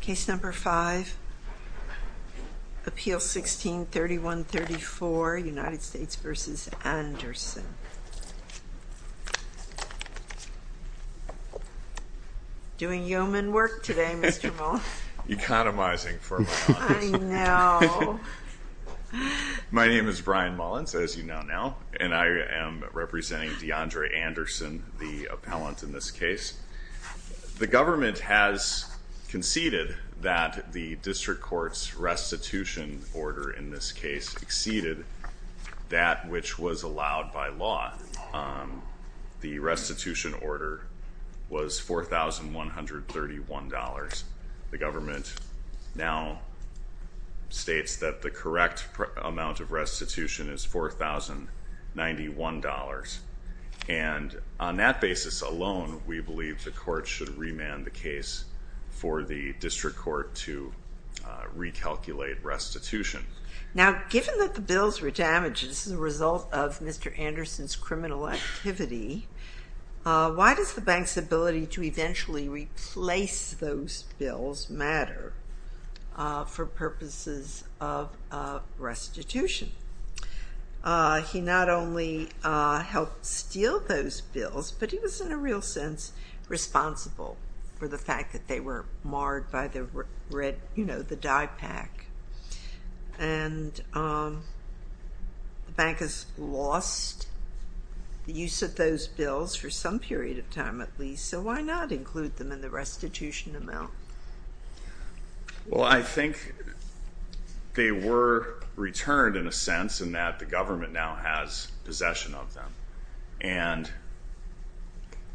Case No. 5, Appeal 16-3134, United States v. Anderson. Doing yeoman work today, Mr. Mullins. Economizing for my clients. I know. My name is Brian Mullins, as you now know, and I am representing Deandre Anderson, the appellant in this case. The government has conceded that the district court's restitution order in this case exceeded that which was allowed by law. The restitution order was $4,131. The government now states that the correct amount of restitution is $4,091. And on that basis alone, we believe the court should remand the case for the district court to recalculate restitution. Now, given that the bills were damaged as a result of Mr. Anderson's criminal activity, why does the bank's ability to eventually replace those bills matter for purposes of restitution? He not only helped steal those bills, but he was, in a real sense, responsible for the fact that they were marred by the red, you know, the dye pack. And the bank has lost the use of those bills for some period of time at least, so why not include them in the restitution amount? Well, I think they were returned in a sense in that the government now has possession of them. And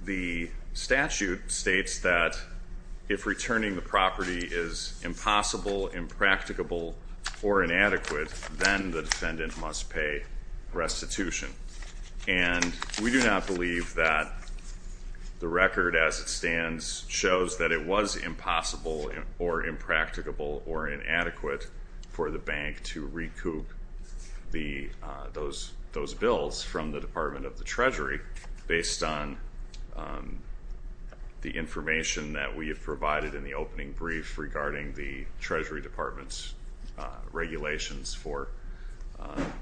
the statute states that if returning the property is impossible, impracticable, or inadequate, then the defendant must pay restitution. And we do not believe that the record as it stands shows that it was impossible or impracticable or inadequate for the bank to recoup those bills from the Department of the Treasury based on the information that we have provided in the opening brief regarding the Treasury Department's regulations for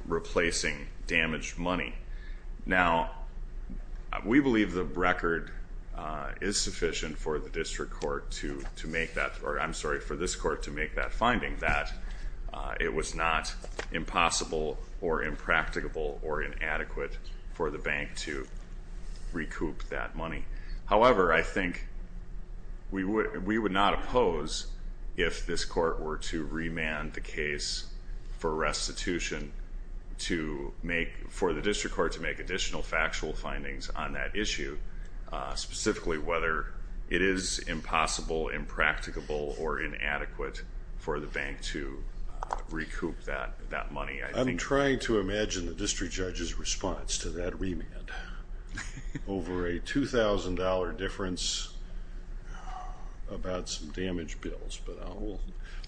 replacing damaged money. Now, we believe the record is sufficient for the district court to make that, or I'm sorry, for this court to make that finding that it was not impossible or impracticable or inadequate for the bank to recoup that money. However, I think we would not oppose if this court were to remand the case for restitution to make, for the district court to make additional factual findings on that issue, specifically whether it is impossible, impracticable, or inadequate for the bank to recoup that money. I'm trying to imagine the district judge's response to that remand. Over a $2,000 difference about some damaged bills.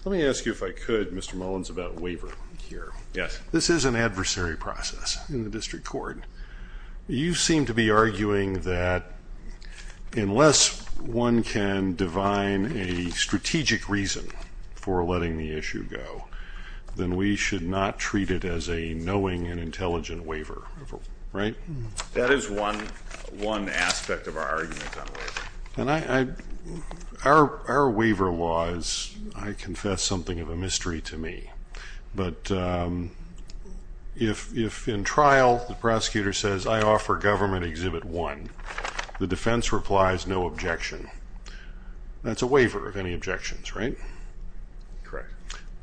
Let me ask you if I could, Mr. Mullins, about waiver here. Yes. This is an adversary process in the district court. You seem to be arguing that unless one can divine a strategic reason for letting the issue go, then we should not treat it as a knowing and intelligent waiver, right? That is one aspect of our argument on waiver. Our waiver laws, I confess, something of a mystery to me. But if in trial the prosecutor says, I offer government Exhibit 1, the defense replies no objection, that's a waiver of any objections, right? Correct.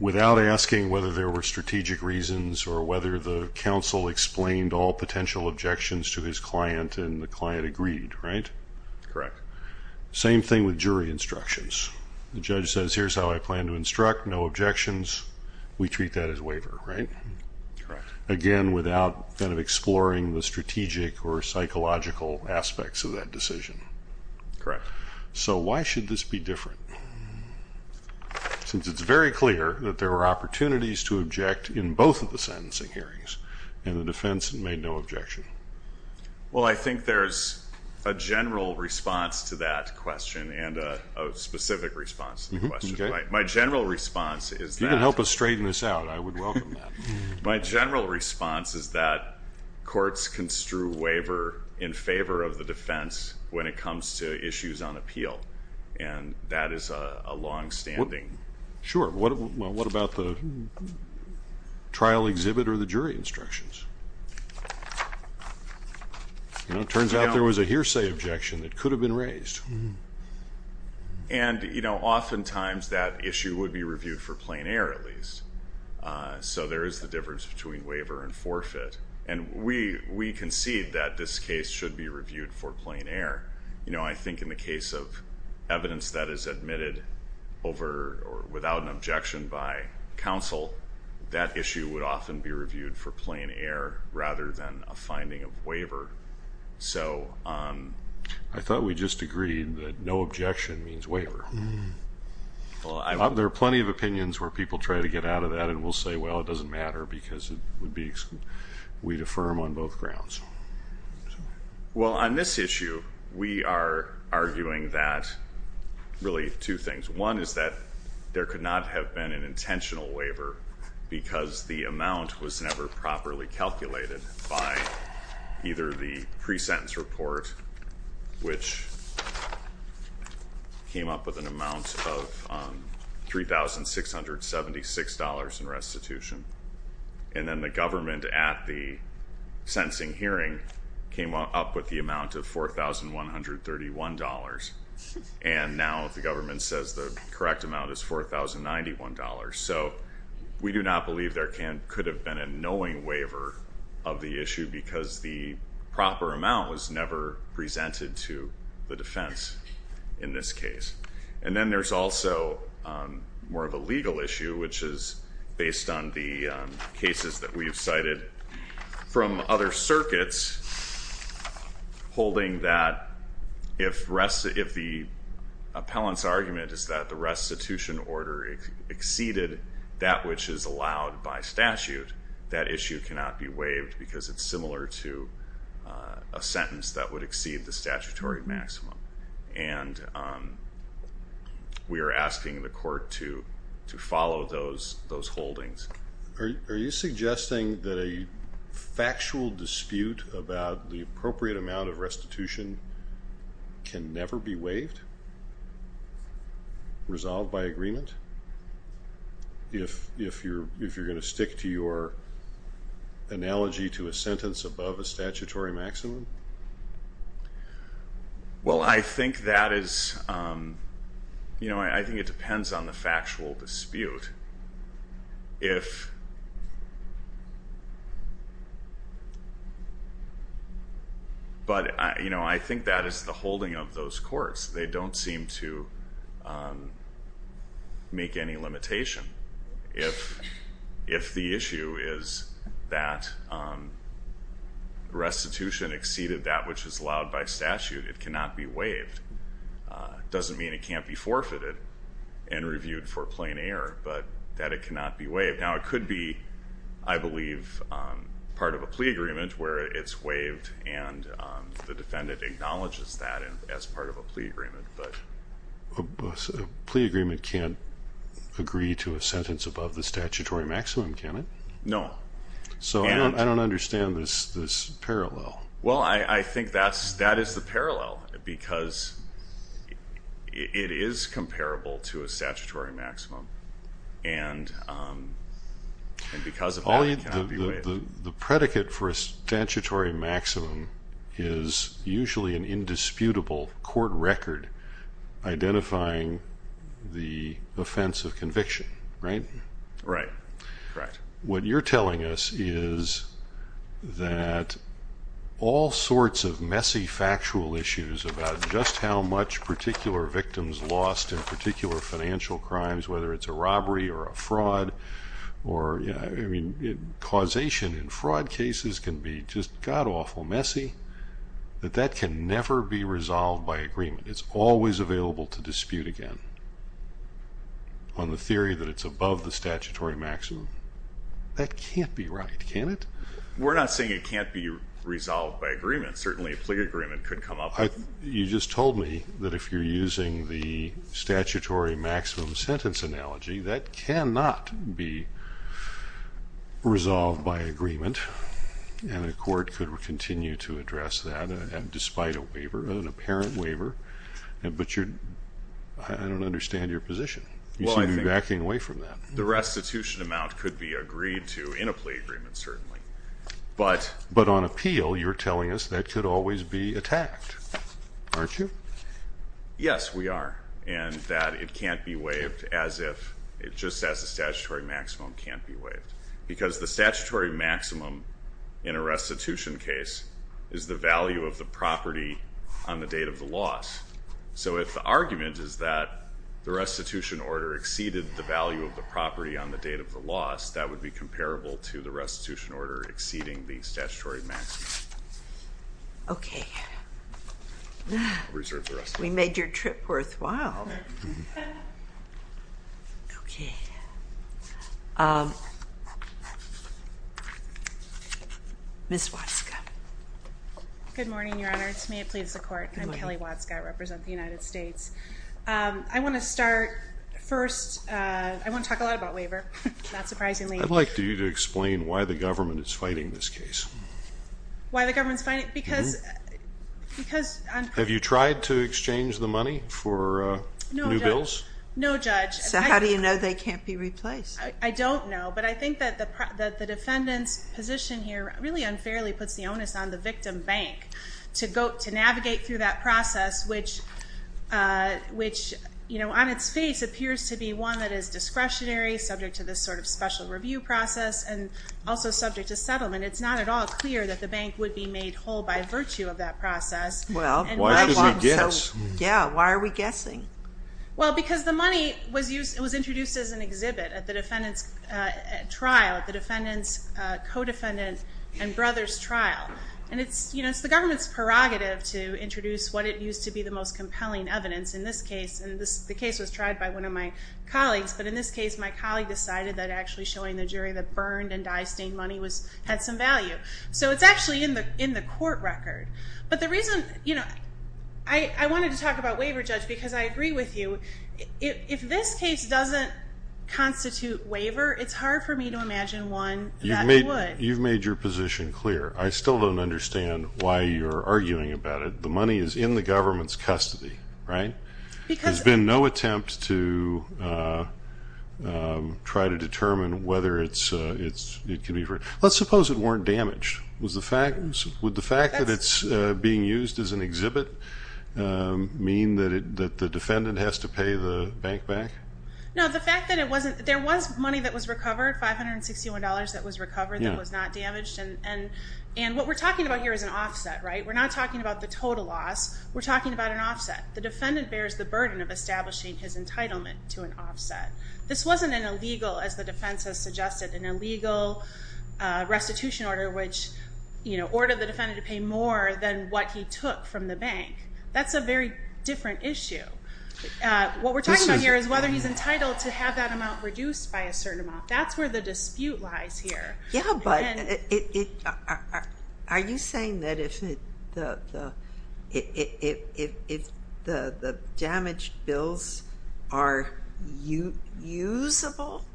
Without asking whether there were strategic reasons or whether the counsel explained all potential objections to his client and the client agreed, right? Correct. Same thing with jury instructions. The judge says, here's how I plan to instruct, no objections. We treat that as waiver, right? Correct. Again, without kind of exploring the strategic or psychological aspects of that decision. Correct. So why should this be different? Since it's very clear that there were opportunities to object in both of the sentencing hearings and the defense made no objection. Well, I think there's a general response to that question and a specific response to the question. My general response is that- You can help us straighten this out. I would welcome that. My general response is that courts construe waiver in favor of the defense when it comes to issues on appeal. And that is a longstanding- Sure. Well, what about the trial exhibit or the jury instructions? It turns out there was a hearsay objection that could have been raised. And, you know, oftentimes that issue would be reviewed for plain error at least. So there is the difference between waiver and forfeit. And we concede that this case should be reviewed for plain error. You know, I think in the case of evidence that is admitted over or without an objection by counsel, that issue would often be reviewed for plain error rather than a finding of waiver. So- I thought we just agreed that no objection means waiver. There are plenty of opinions where people try to get out of that and will say, well, it doesn't matter because we'd affirm on both grounds. Well, on this issue, we are arguing that really two things. One is that there could not have been an intentional waiver because the amount was never properly calculated by either the pre-sentence report, which came up with an amount of $3,676 in restitution, and then the government at the sentencing hearing came up with the amount of $4,131. And now the government says the correct amount is $4,091. So we do not believe there could have been a knowing waiver of the issue because the proper amount was never presented to the defense in this case. And then there's also more of a legal issue, which is based on the cases that we've cited from other circuits, holding that if the appellant's argument is that the restitution order exceeded that which is allowed by statute, that issue cannot be waived because it's similar to a sentence that would exceed the statutory maximum. And we are asking the court to follow those holdings. Are you suggesting that a factual dispute about the appropriate amount of restitution can never be waived, resolved by agreement, if you're going to stick to your analogy to a sentence above a statutory maximum? Well, I think that is, you know, I think it depends on the factual dispute. But, you know, I think that is the holding of those courts. They don't seem to make any limitation. If the issue is that restitution exceeded that which is allowed by statute, it cannot be waived. It doesn't mean it can't be forfeited and reviewed for plain error, but that it cannot be waived. Now, it could be, I believe, part of a plea agreement where it's waived and the defendant acknowledges that as part of a plea agreement. A plea agreement can't agree to a sentence above the statutory maximum, can it? No. So I don't understand this parallel. Well, I think that is the parallel because it is comparable to a statutory maximum. The predicate for a statutory maximum is usually an indisputable court record identifying the offense of conviction, right? Right. What you're telling us is that all sorts of messy factual issues about just how much particular victims lost in particular financial crimes, whether it's a robbery or a fraud, or causation in fraud cases can be just god-awful messy, that that can never be resolved by agreement. It's always available to dispute again on the theory that it's above the statutory maximum. That can't be right, can it? We're not saying it can't be resolved by agreement. Certainly, a plea agreement could come up. You just told me that if you're using the statutory maximum sentence analogy, that cannot be resolved by agreement, and a court could continue to address that despite a waiver, an apparent waiver. But I don't understand your position. You seem to be backing away from that. The restitution amount could be agreed to in a plea agreement, certainly. But on appeal, you're telling us that could always be attacked, aren't you? Yes, we are, and that it can't be waived as if it just says the statutory maximum can't be waived. Because the statutory maximum in a restitution case is the value of the property on the date of the loss. So if the argument is that the restitution order exceeded the value of the property on the date of the loss, that would be comparable to the restitution order exceeding the statutory maximum. Okay. We made your trip worthwhile. Okay. Ms. Watzka. Good morning, Your Honor. To me, it pleads the court. I'm Kelly Watzka. I represent the United States. I want to start first. I want to talk a lot about waiver, not surprisingly. I'd like you to explain why the government is fighting this case. Why the government is fighting it? Because on the Have you tried to exchange the money for new bills? No, Judge. So how do you know they can't be replaced? I don't know. But I think that the defendant's position here really unfairly puts the onus on the victim bank to navigate through that process, which on its face appears to be one that is discretionary, subject to this sort of special review process, and also subject to settlement. It's not at all clear that the bank would be made whole by virtue of that process. Well, why should we guess? Yeah, why are we guessing? Well, because the money was introduced as an exhibit at the defendant's trial, the defendant's co-defendant and brother's trial. And it's the government's prerogative to introduce what it used to be the most compelling evidence. In this case, and the case was tried by one of my colleagues, but in this case my colleague decided that actually showing the jury the burned and dye-stained money had some value. So it's actually in the court record. But the reason, you know, I wanted to talk about waiver, Judge, because I agree with you. If this case doesn't constitute waiver, it's hard for me to imagine one that would. You've made your position clear. I still don't understand why you're arguing about it. The money is in the government's custody, right? There's been no attempt to try to determine whether it can be. Let's suppose it weren't damaged. Would the fact that it's being used as an exhibit mean that the defendant has to pay the bank back? No, the fact that it wasn't. There was money that was recovered, $561 that was recovered that was not damaged. And what we're talking about here is an offset, right? We're not talking about the total loss. We're talking about an offset. The defendant bears the burden of establishing his entitlement to an offset. This wasn't an illegal, as the defense has suggested, an illegal restitution order, which, you know, ordered the defendant to pay more than what he took from the bank. That's a very different issue. What we're talking about here is whether he's entitled to have that amount reduced by a certain amount. That's where the dispute lies here. Yeah, but are you saying that if the damaged bills are usable,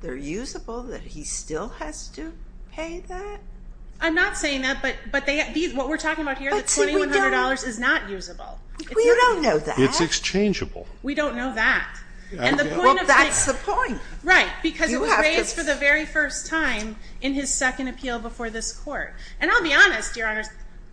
they're usable, that he still has to pay that? I'm not saying that, but what we're talking about here, the $2,100 is not usable. We don't know that. It's exchangeable. We don't know that. Well, that's the point. Right, because it was raised for the very first time in his second appeal before this court. And I'll be honest, Your Honors,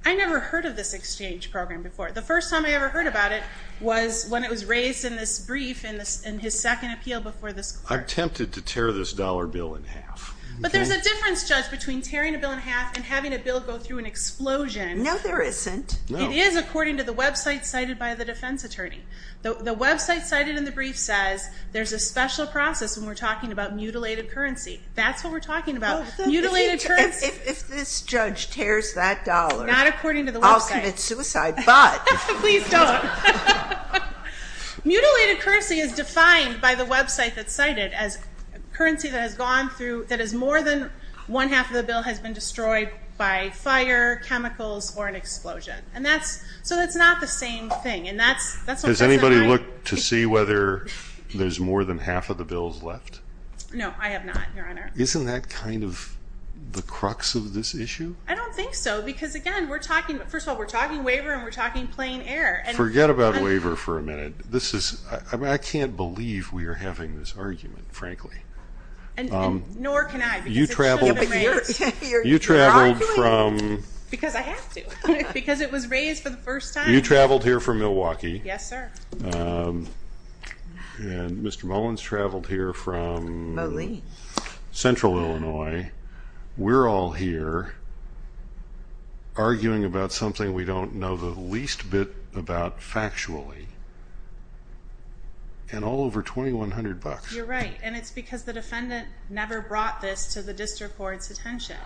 I never heard of this exchange program before. The first time I ever heard about it was when it was raised in this brief in his second appeal before this court. I'm tempted to tear this dollar bill in half. But there's a difference, Judge, between tearing a bill in half and having a bill go through an explosion. No, there isn't. It is, according to the website cited by the defense attorney. The website cited in the brief says there's a special process when we're talking about mutilated currency. That's what we're talking about. Mutilated currency. If this judge tears that dollar, I'll commit suicide. Not according to the website. But. Please don't. Mutilated currency is defined by the website that's cited as currency that has gone through, that is more than one-half of the bill has been destroyed by fire, chemicals, or an explosion. And that's, so that's not the same thing. And that's. Has anybody looked to see whether there's more than half of the bills left? No, I have not, Your Honor. Isn't that kind of the crux of this issue? I don't think so. Because, again, we're talking, first of all, we're talking waiver and we're talking plain error. Forget about waiver for a minute. This is, I can't believe we are having this argument, frankly. And nor can I. You traveled. You traveled from. Because I have to. Because it was raised for the first time. You traveled here from Milwaukee. Yes, sir. And Mr. Mullins traveled here from. Moline. Central Illinois. We're all here arguing about something we don't know the least bit about factually. And all over $2,100. You're right. And it's because the defendant never brought this to the district court's attention.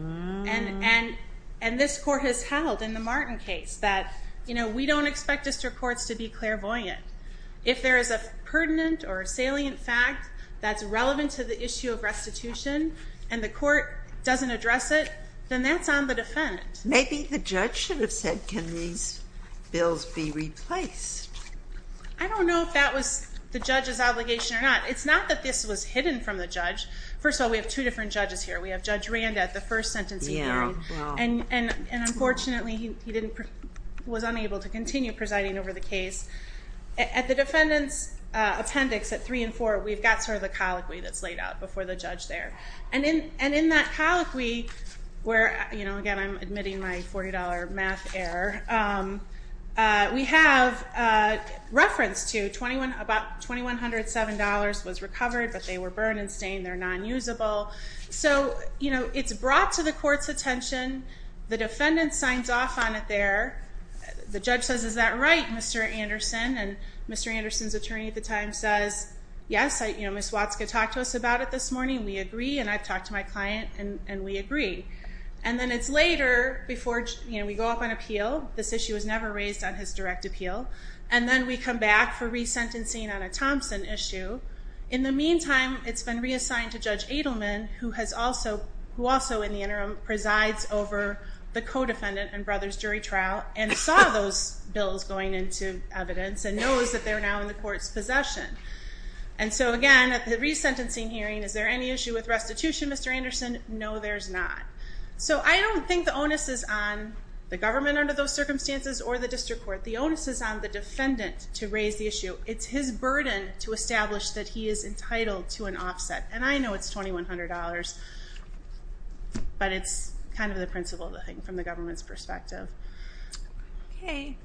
And this court has held in the Martin case that we don't expect district courts to be clairvoyant. If there is a pertinent or salient fact that's relevant to the issue of restitution and the court doesn't address it, then that's on the defendant. Maybe the judge should have said can these bills be replaced. I don't know if that was the judge's obligation or not. It's not that this was hidden from the judge. First of all, we have two different judges here. We have Judge Randa at the first sentencing hearing. And, unfortunately, he was unable to continue presiding over the case. At the defendant's appendix at 3 and 4, we've got sort of the colloquy that's laid out before the judge there. And in that colloquy where, again, I'm admitting my $40 math error, we have reference to about $2,107 was recovered, but they were burned and stained. They're non-usable. So it's brought to the court's attention. The defendant signs off on it there. The judge says, is that right, Mr. Anderson? And Mr. Anderson's attorney at the time says, yes, Ms. Watzka talked to us about it this morning. We agree. And I've talked to my client. And we agree. And then it's later before we go up on appeal. This issue was never raised on his direct appeal. And then we come back for resentencing on a Thompson issue. In the meantime, it's been reassigned to Judge Adelman, who also, in the interim, presides over the co-defendant and brother's jury trial and saw those bills going into evidence and knows that they're now in the court's possession. And so, again, at the resentencing hearing, is there any issue with restitution, Mr. Anderson? No, there's not. So I don't think the onus is on the government under those circumstances or the district court. The onus is on the defendant to raise the issue. It's his burden to establish that he is entitled to an offset. And I know it's $2,100. But it's kind of the principle of the thing from the government's perspective.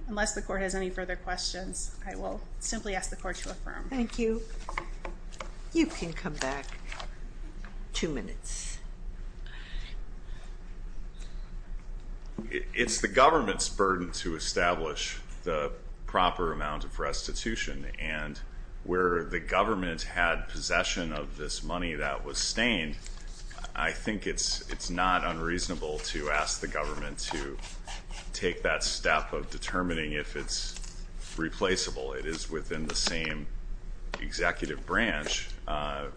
Unless the court has any further questions, I will simply ask the court to affirm. Thank you. You can come back two minutes. It's the government's burden to establish the proper amount of restitution. And where the government had possession of this money that was stained, I think it's not unreasonable to ask the government to take that step of determining if it's replaceable. It is within the same executive branch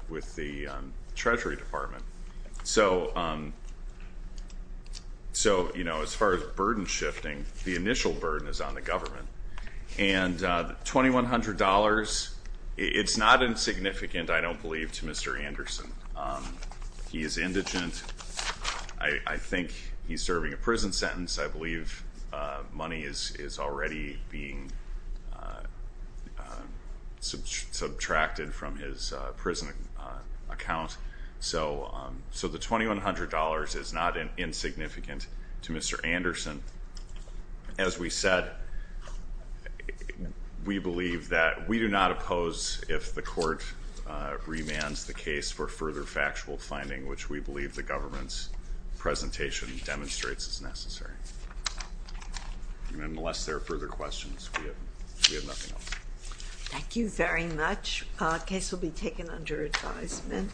with the Treasury Department. So, you know, as far as burden shifting, the initial burden is on the government. And $2,100, it's not insignificant, I don't believe, to Mr. Anderson. He is indigent. I think he's serving a prison sentence. I believe money is already being subtracted from his prison account. So the $2,100 is not insignificant to Mr. Anderson. As we said, we believe that we do not oppose if the court remands the case for further factual finding, which we believe the government's presentation demonstrates is necessary. And unless there are further questions, we have nothing else. Thank you very much. The case will be taken under advisement.